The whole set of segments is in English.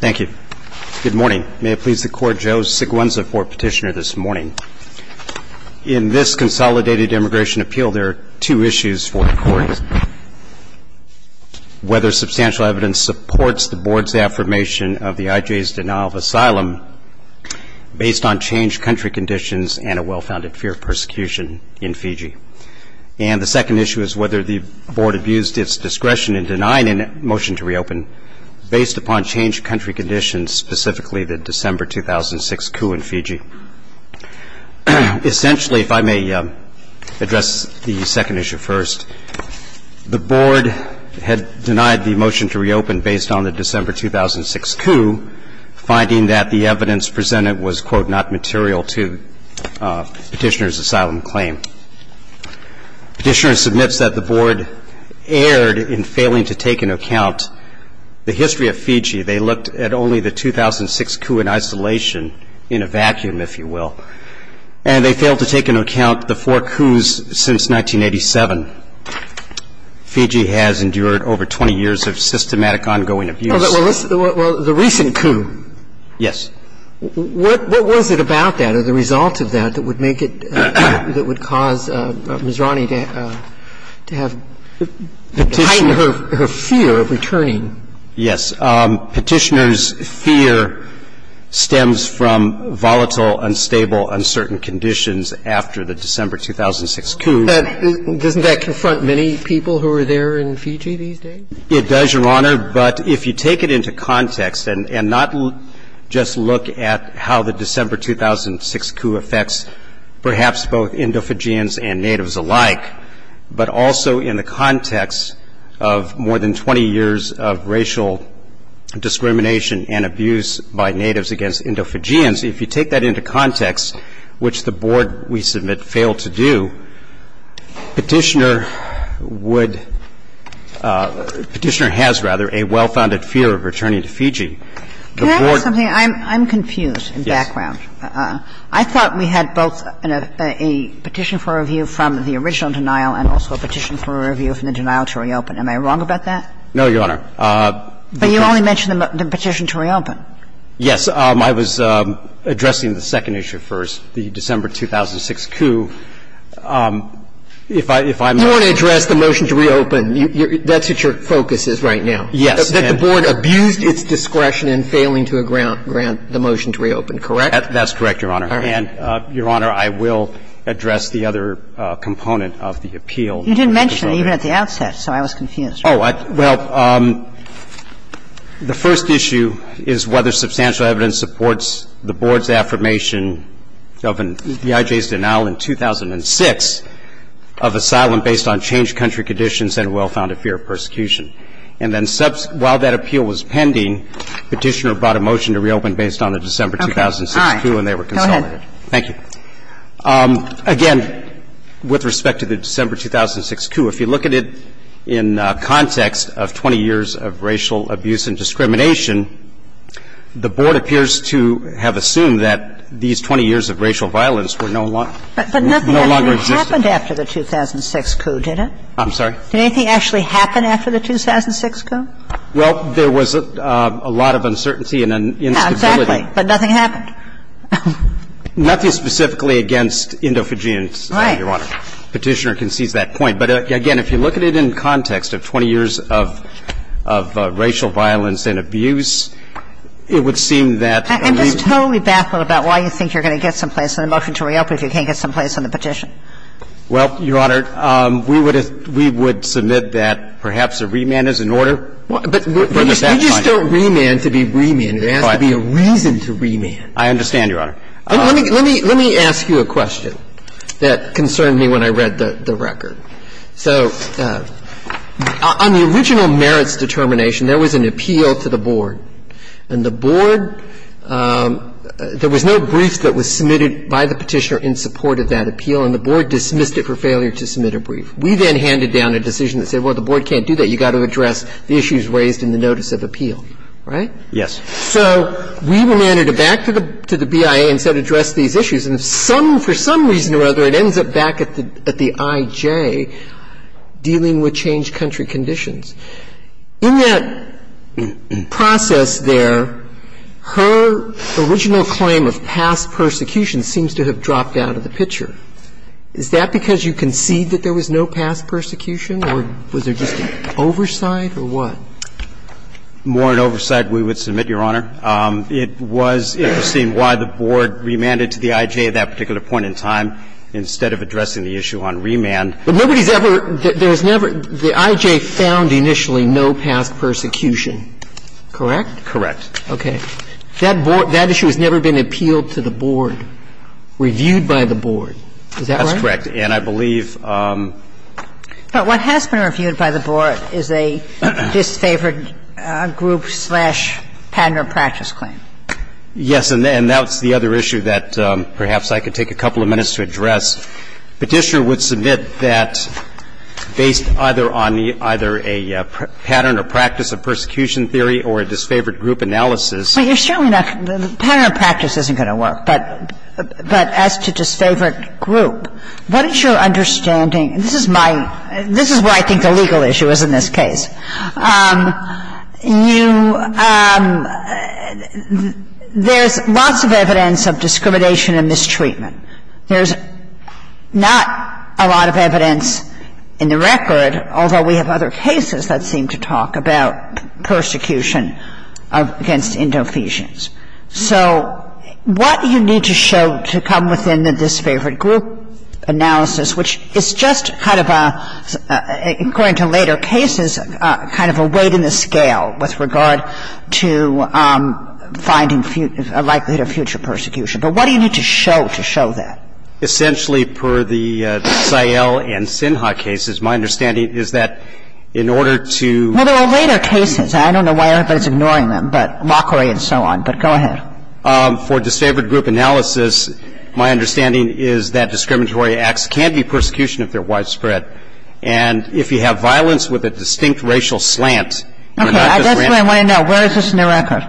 Thank you. Good morning. May it please the Court, Joe Siguenza for petitioner this morning. In this Consolidated Immigration Appeal, there are two issues for the Court. Whether substantial evidence supports the Board's affirmation of the IJ's denial of asylum based on changed country conditions and a well-founded fear of persecution in Fiji. And the second issue is whether the Board abused its discretion in denying a motion to reopen based upon changed country conditions, specifically the December 2006 coup in Fiji. Essentially, if I may address the second issue first, the Board had denied the motion to reopen based on the December 2006 coup, finding that the evidence presented was, quote, not sufficient. And so the Board said, the Board erred in failing to take into account the history of Fiji. They looked at only the 2006 coup in isolation in a vacuum, if you will. And they failed to take into account the four coups since 1987. Fiji has endured over 20 years of systematic ongoing abuse. Well, the recent coup. Yes. What was it about that or the result of that that would make it – that would cause Ms. Rani to have heightened her fear of returning? Yes. Petitioner's fear stems from volatile, unstable, uncertain conditions after the December 2006 coup. Doesn't that confront many people who are there in Fiji these days? It does, Your Honor. But if you take it into context and not just look at how the December 2006 coup affects perhaps both Indo-Fijians and Natives alike, but also in the context of more than 20 years of racial discrimination and abuse by Natives against Indo-Fijians, if you take that into context, which the Board, we submit, failed to do, Petitioner would – Petitioner has, rather, a well-founded fear of returning to Fiji. Can I ask something? I'm confused in background. Yes. I thought we had both a Petition for Review from the original denial and also a Petition for Review from the denial to reopen. Am I wrong about that? No, Your Honor. But you only mentioned the Petition to reopen. Yes. I was addressing the second issue first, the December 2006 coup. If I'm – You want to address the motion to reopen. That's what your focus is right now. Yes. That the Board abused its discretion in failing to grant the motion to reopen, correct? That's correct, Your Honor. All right. And, Your Honor, I will address the other component of the appeal. You didn't mention it even at the outset, so I was confused. Oh, well, the first issue is whether substantial evidence supports the Board's And then while that appeal was pending, Petitioner brought a motion to reopen based on the December 2006 coup and they were consolidated. Okay. All right. Go ahead. Thank you. Again, with respect to the December 2006 coup, if you look at it in context of 20 years of racial abuse and discrimination, the Board appears to have assumed that these 20 years of racial violence were no longer – no longer existed. Well, nothing happened after the 2006 coup, did it? I'm sorry? Did anything actually happen after the 2006 coup? Well, there was a lot of uncertainty and instability. Exactly. But nothing happened? Nothing specifically against Indo-Fijians, Your Honor. All right. Petitioner concedes that point. But, again, if you look at it in context of 20 years of – of racial violence and abuse, it would seem that – I'm just totally baffled about why you think you're going to get some place on the petition. Well, Your Honor, we would – we would submit that perhaps a remand is in order. But we just don't remand to be remanded. It has to be a reason to remand. I understand, Your Honor. Let me – let me ask you a question that concerned me when I read the record. So on the original merits determination, there was an appeal to the Board. And the Board – there was no brief that was submitted by the Petitioner in support of that appeal, and the Board dismissed it for failure to submit a brief. We then handed down a decision that said, well, the Board can't do that. You've got to address the issues raised in the notice of appeal, right? Yes. So we remanded it back to the – to the BIA and said, address these issues. And some – for some reason or other, it ends up back at the – at the IJ dealing with changed country conditions. In that process there, her original claim of past persecution seems to have dropped out of the picture. Is that because you concede that there was no past persecution, or was there just an oversight, or what? More an oversight, we would submit, Your Honor. It was interesting why the Board remanded to the IJ at that particular point in time instead of addressing the issue on remand. But nobody's ever – there's never – the IJ found initially no past persecution, correct? Correct. Okay. That Board – that issue has never been appealed to the Board, reviewed by the Board. Is that right? That's correct. And I believe – But what has been reviewed by the Board is a disfavored group-slash-pattern or practice claim. Yes. And that's the other issue that perhaps I could take a couple of minutes to address. Petitioner would submit that based either on the – either a pattern or practice of persecution theory or a disfavored group analysis – Well, you're showing that the pattern or practice isn't going to work. But as to disfavored group, what is your understanding – this is my – this is where I think the legal issue is in this case. You – there's lots of evidence of discrimination and mistreatment. There's not a lot of evidence in the record, although we have other cases that seem to talk about persecution against Indo-Easians. So what do you need to show to come within the disfavored group analysis, which is just kind of a – according to later cases, kind of a weight in the scale with regard to finding a likelihood of future persecution. But what do you need to show to show that? Essentially, per the Sael and Sinha cases, my understanding is that in order to – Well, there are later cases. I don't know why everybody's ignoring them, but Lockery and so on. But go ahead. For disfavored group analysis, my understanding is that discriminatory acts can be persecution if they're widespread. And if you have violence with a distinct racial slant, you're not disenfranchisement. Okay. That's what I want to know. Where is this in the record?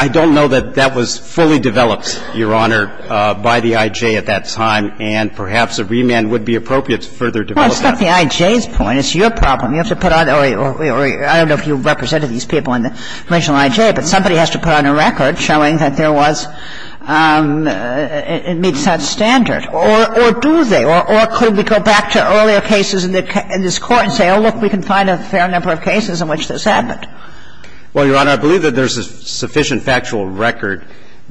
I don't know that that was fully developed, Your Honor, by the I.J. at that time. And perhaps a remand would be appropriate to further develop that. Well, it's not the I.J.'s point. It's your problem. You have to put on – or I don't know if you represented these people in the original I.J., but somebody has to put on a record showing that there was – it meets that standard. Or do they? Or could we go back to earlier cases in this Court and say, oh, look, we can find a fair number of cases in which this happened? Well, Your Honor, I believe that there's a sufficient factual record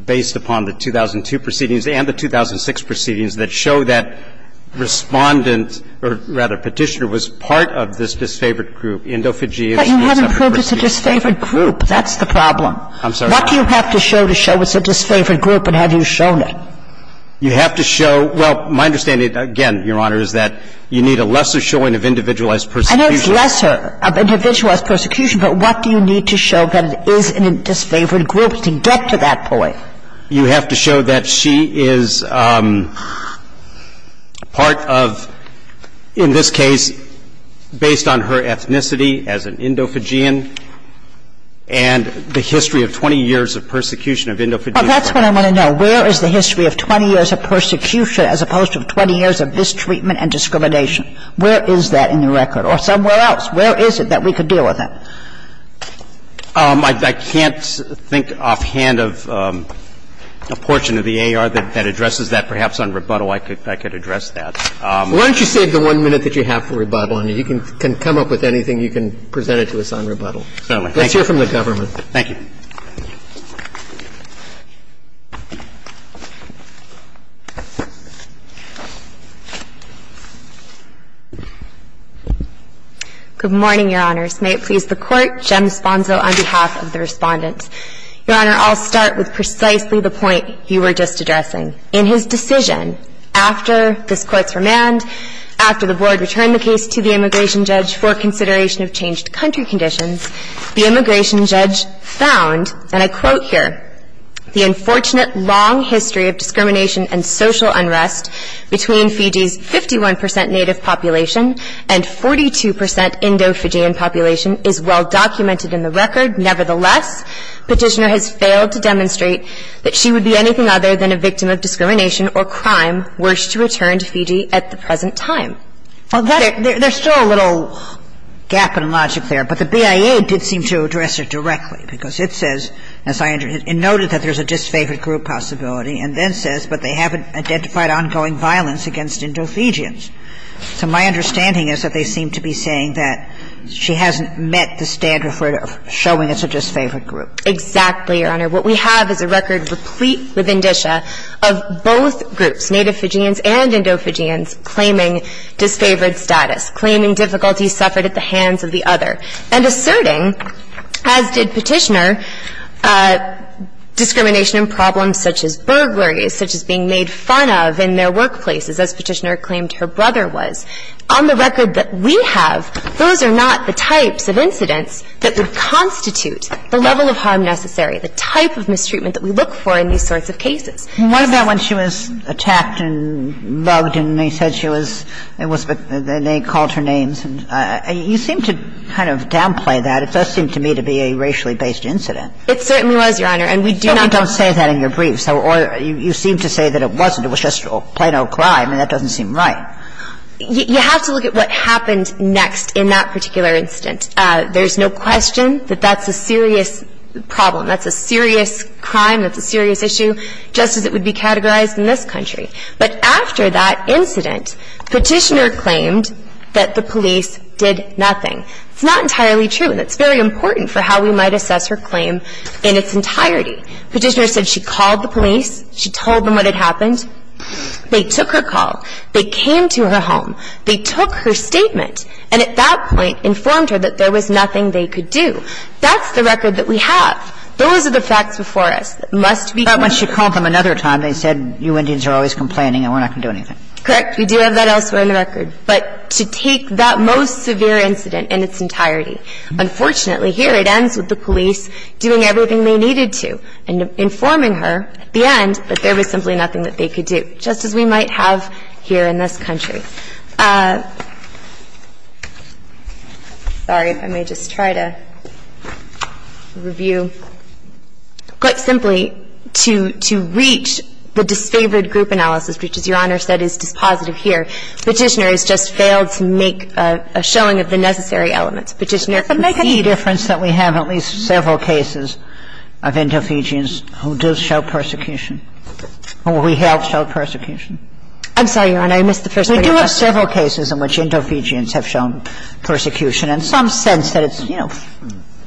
based upon the 2002 proceedings and the 2006 proceedings that show that Respondent, or rather Petitioner, was part of this disfavored group, Endophagy and Sports After Persecution. But you haven't proved it's a disfavored group. That's the problem. I'm sorry? What do you have to show to show it's a disfavored group, and have you shown it? You have to show – well, my understanding, again, Your Honor, is that you need a lesser showing of individualized persecution. I know it's lesser of individualized persecution, but what do you need to show that it is a disfavored group to get to that point? You have to show that she is part of, in this case, based on her ethnicity as an Endophagian and the history of 20 years of persecution of Endophagy. Well, that's what I want to know. Where is the history of 20 years of persecution as opposed to 20 years of mistreatment and discrimination? Where is that in the record? Or somewhere else, where is it that we could deal with that? I can't think offhand of a portion of the A.R. that addresses that. Perhaps on rebuttal I could address that. Why don't you save the one minute that you have for rebuttal, and you can come up with anything you can present it to us on rebuttal. Certainly. Let's hear from the government. Thank you. Good morning, Your Honors. May it please the Court, Jem Sponzo on behalf of the Respondents. Your Honor, I'll start with precisely the point you were just addressing. In his decision, after this Court's remand, after the Board returned the case to the immigration conditions, the immigration judge found, and I quote here, the unfortunate long history of discrimination and social unrest between Fiji's 51 percent native population and 42 percent Indo-Fijian population is well documented in the record. Nevertheless, Petitioner has failed to demonstrate that she would be anything other than a victim of discrimination or crime were she to return to Fiji at the present time. And so I'm wondering if you could comment on that, because I think it's a very important point. I think it's a very important point, and I think it's a very important point. There's still a little gap in logic there, but the BIA did seem to address it directly, because it says, as I understand, it noted that there's a disfavored group possibility and then says, but they haven't identified ongoing violence against Indo-Fijians. So my understanding is that they seem to be saying that she hasn't met the standard of showing it's a disfavored group. Exactly, Your Honor. What we have is a record replete with indicia of both groups, native Fijians and Indo-Fijians, claiming disfavored status, claiming difficulty suffered at the hands of the other, and asserting, as did Petitioner, discrimination and problems such as burglaries, such as being made fun of in their workplaces, as Petitioner claimed her brother was. On the record that we have, those are not the types of incidents that we have in the of incidents that we have in the case that would constitute the level of harm necessary, the type of mistreatment that we look for in these sorts of cases. And what about when she was attacked and mugged and they said she was ‑‑ and they called her names? You seem to kind of downplay that. It does seem to me to be a racially-based incident. It certainly was, Your Honor, and we do not ‑‑ And I do not believe that that's a serious question, that that's a serious problem, that's a serious crime, that's a serious issue, just as it would be categorized in this country. But after that incident, Petitioner claimed that the police did nothing. It's not entirely true. And it's very important for how we might assess her claim in its entirety. Petitioner said she called the police, she told them what had happened. They took her call. They came to her home. They took her statement and at that point informed her that there was nothing they could do. That's the record that we have. Those are the facts before us that must be ‑‑ But when she called them another time, they said, you Indians are always complaining and we're not going to do anything. Correct. We do have that elsewhere in the record. But to take that most severe incident in its entirety, unfortunately, here it ends with the police doing everything they needed to. And informing her at the end that there was simply nothing that they could do, just as we might have here in this country. Sorry, let me just try to review. Quite simply, to reach the disfavored group analysis, which as Your Honor said is dispositive here, Petitioner has just failed to make a showing of the necessary elements. Petitioner can see the difference that we have in at least several cases of interference between individuals who do show persecution, or who helped show persecution. I'm sorry, Your Honor, I missed the first part of your question. We do have several cases in which Indovigians have shown persecution, in some sense that it's, you know,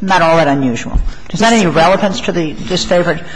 not all that unusual. Does that have any relevance to the disfavored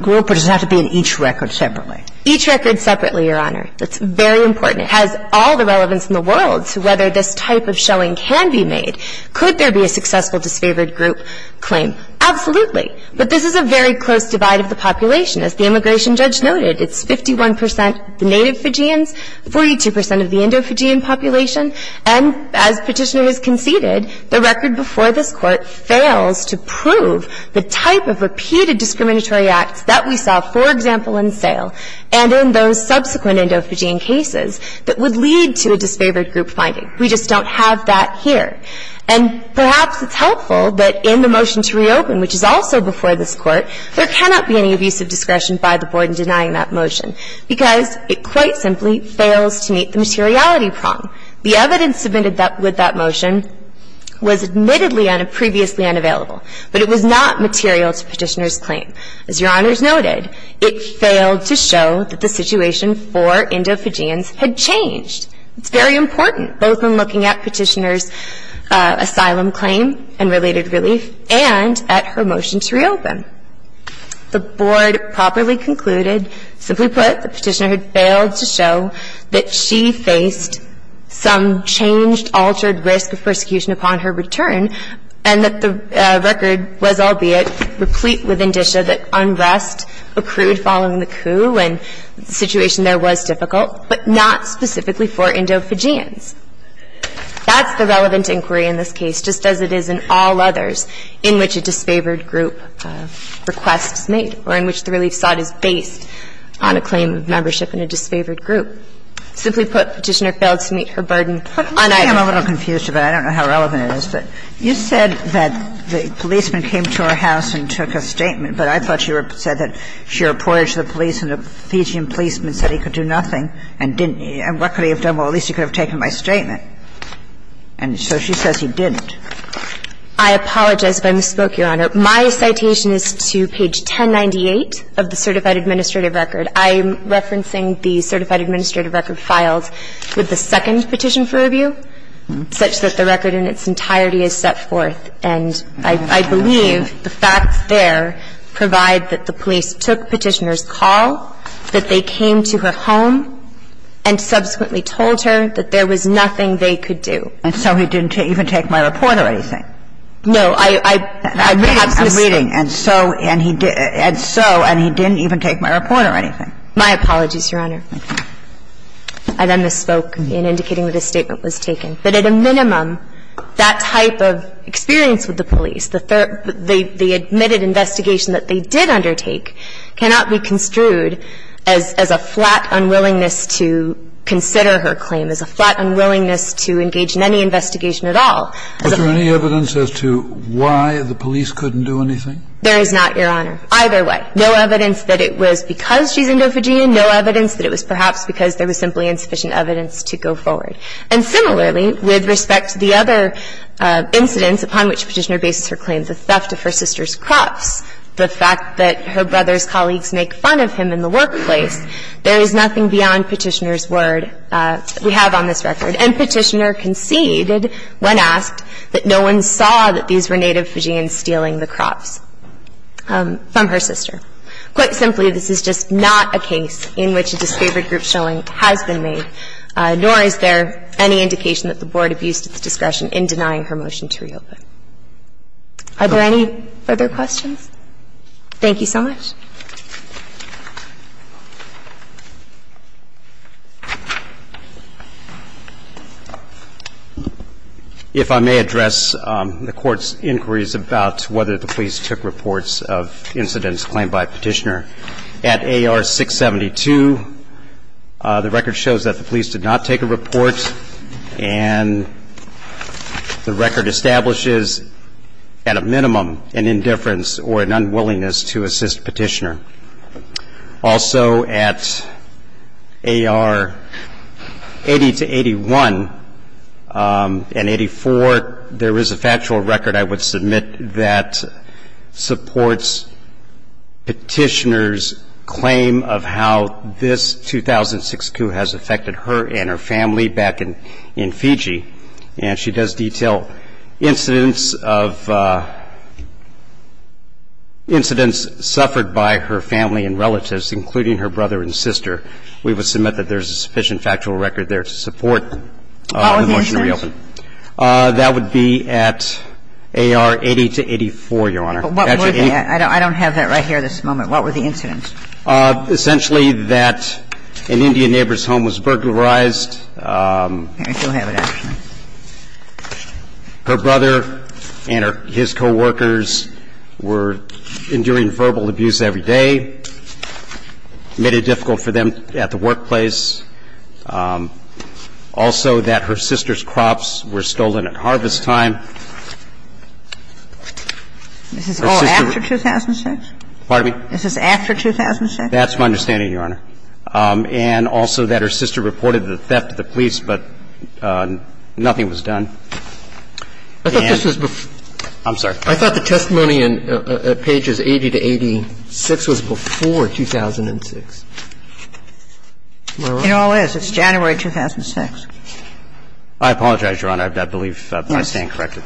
group or does it have to be in each record separately? Each record separately, Your Honor. That's very important. It has all the relevance in the world to whether this type of showing can be made. Could there be a successful disfavored group claim? Absolutely. But this is a very close divide of the population. As the immigration judge noted, it's 51 percent of the Native Fijians, 42 percent of the Indovigian population. And as Petitioner has conceded, the record before this Court fails to prove the type of repeated discriminatory acts that we saw, for example, in Sale and in those subsequent Indovigian cases that would lead to a disfavored group finding. We just don't have that here. And perhaps it's helpful that in the motion to reopen, which is also before this Court, there cannot be any abuse of discretion by the Board in denying that motion because it quite simply fails to meet the materiality prong. The evidence submitted with that motion was admittedly previously unavailable, but it was not material to Petitioner's claim. As Your Honors noted, it failed to show that the situation for Indovigians had changed. It's very important, both in looking at Petitioner's asylum claim and related relief and at her motion to reopen. The Board properly concluded, simply put, that Petitioner had failed to show that she faced some changed, altered risk of persecution upon her return and that the record was, albeit, replete with indicia that unrest accrued following the coup and the situation there was difficult, but not specifically for Indovigians. That's the relevant inquiry in this case, just as it is in all others in which a disfavored group requests made or in which the relief sought is based on a claim of membership in a disfavored group. Simply put, Petitioner failed to meet her burden unidentified. Kagan. Kagan. I'm a little confused about it. I don't know how relevant it is. But you said that the policeman came to our house and took a statement, but I thought you said that she reported to the police and a Fijian policeman said he could do nothing, and what could he have done? Well, at least he could have taken my statement, and so she says he didn't. I apologize if I misspoke, Your Honor. My citation is to page 1098 of the Certified Administrative Record. I'm referencing the Certified Administrative Record filed with the second petition for review, such that the record in its entirety is set forth, and I believe the facts there provide that the police took Petitioner's call, that they came to her home, and subsequently told her that there was nothing they could do. And so he didn't even take my report or anything? No. I'm reading. And so he didn't even take my report or anything? My apologies, Your Honor. I then misspoke in indicating that a statement was taken. But at a minimum, that type of experience with the police, the third – the admitted investigation that they did undertake cannot be construed as a flat unwillingness to consider her claim, as a flat unwillingness to engage in any investigation at all. Was there any evidence as to why the police couldn't do anything? There is not, Your Honor, either way. No evidence that it was because she's Indo-Fijian, no evidence that it was perhaps because there was simply insufficient evidence to go forward. And similarly, with respect to the other incidents upon which Petitioner bases her claim, the theft of her sister's crops, the fact that her brother's colleagues make fun of him in the workplace, there is nothing beyond Petitioner's word we have on this record. And Petitioner conceded, when asked, that no one saw that these were Native Fijians stealing the crops from her sister. Quite simply, this is just not a case in which a disfavored group showing has been made, nor is there any indication that the Board abused its discretion in denying her motion to reopen. Are there any further questions? Thank you so much. If I may address the Court's inquiries about whether the police took reports of incidents claimed by Petitioner. At AR 672, the record shows that the police did not take a report, and the record establishes, at a minimum, an indifference or an unwillingness to assist Petitioner. Also at AR 80-81 and 84, there is a factual record, I would submit, that supports Petitioner's claim of how this 2006 coup has affected her and her family back in Fiji. And she does detail incidents of – incidents suffered by her family and relatives, including her brother and sister. We would submit that there is a sufficient factual record there to support the motion to reopen. What was the instance? That would be at AR 80-84, Your Honor. But what were the – I don't have that right here at this moment. What were the incidents? Essentially that an Indian neighbor's home was burglarized. Here, you'll have it, actually. Her brother and his coworkers were enduring verbal abuse every day, made it difficult for them at the workplace. Also that her sister's crops were stolen at harvest time. And also that her sister reported the theft to the police, but nothing was done. I thought this was before – I'm sorry. I thought the testimony in pages 80 to 86 was before 2006. It all is. It's January 2006. I apologize, Your Honor. I believe I stand corrected.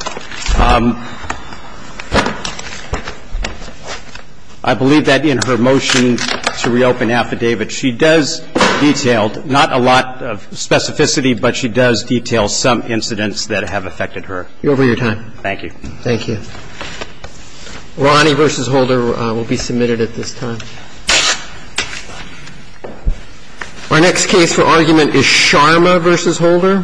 I believe that in her motion to reopen affidavit, she does detail, not a lot of specificity, but she does detail some incidents that have affected her. You're over your time. Thank you. Thank you. Lonnie v. Holder will be submitted at this time. Our next case for argument is Sharma v. Holder. Thank you.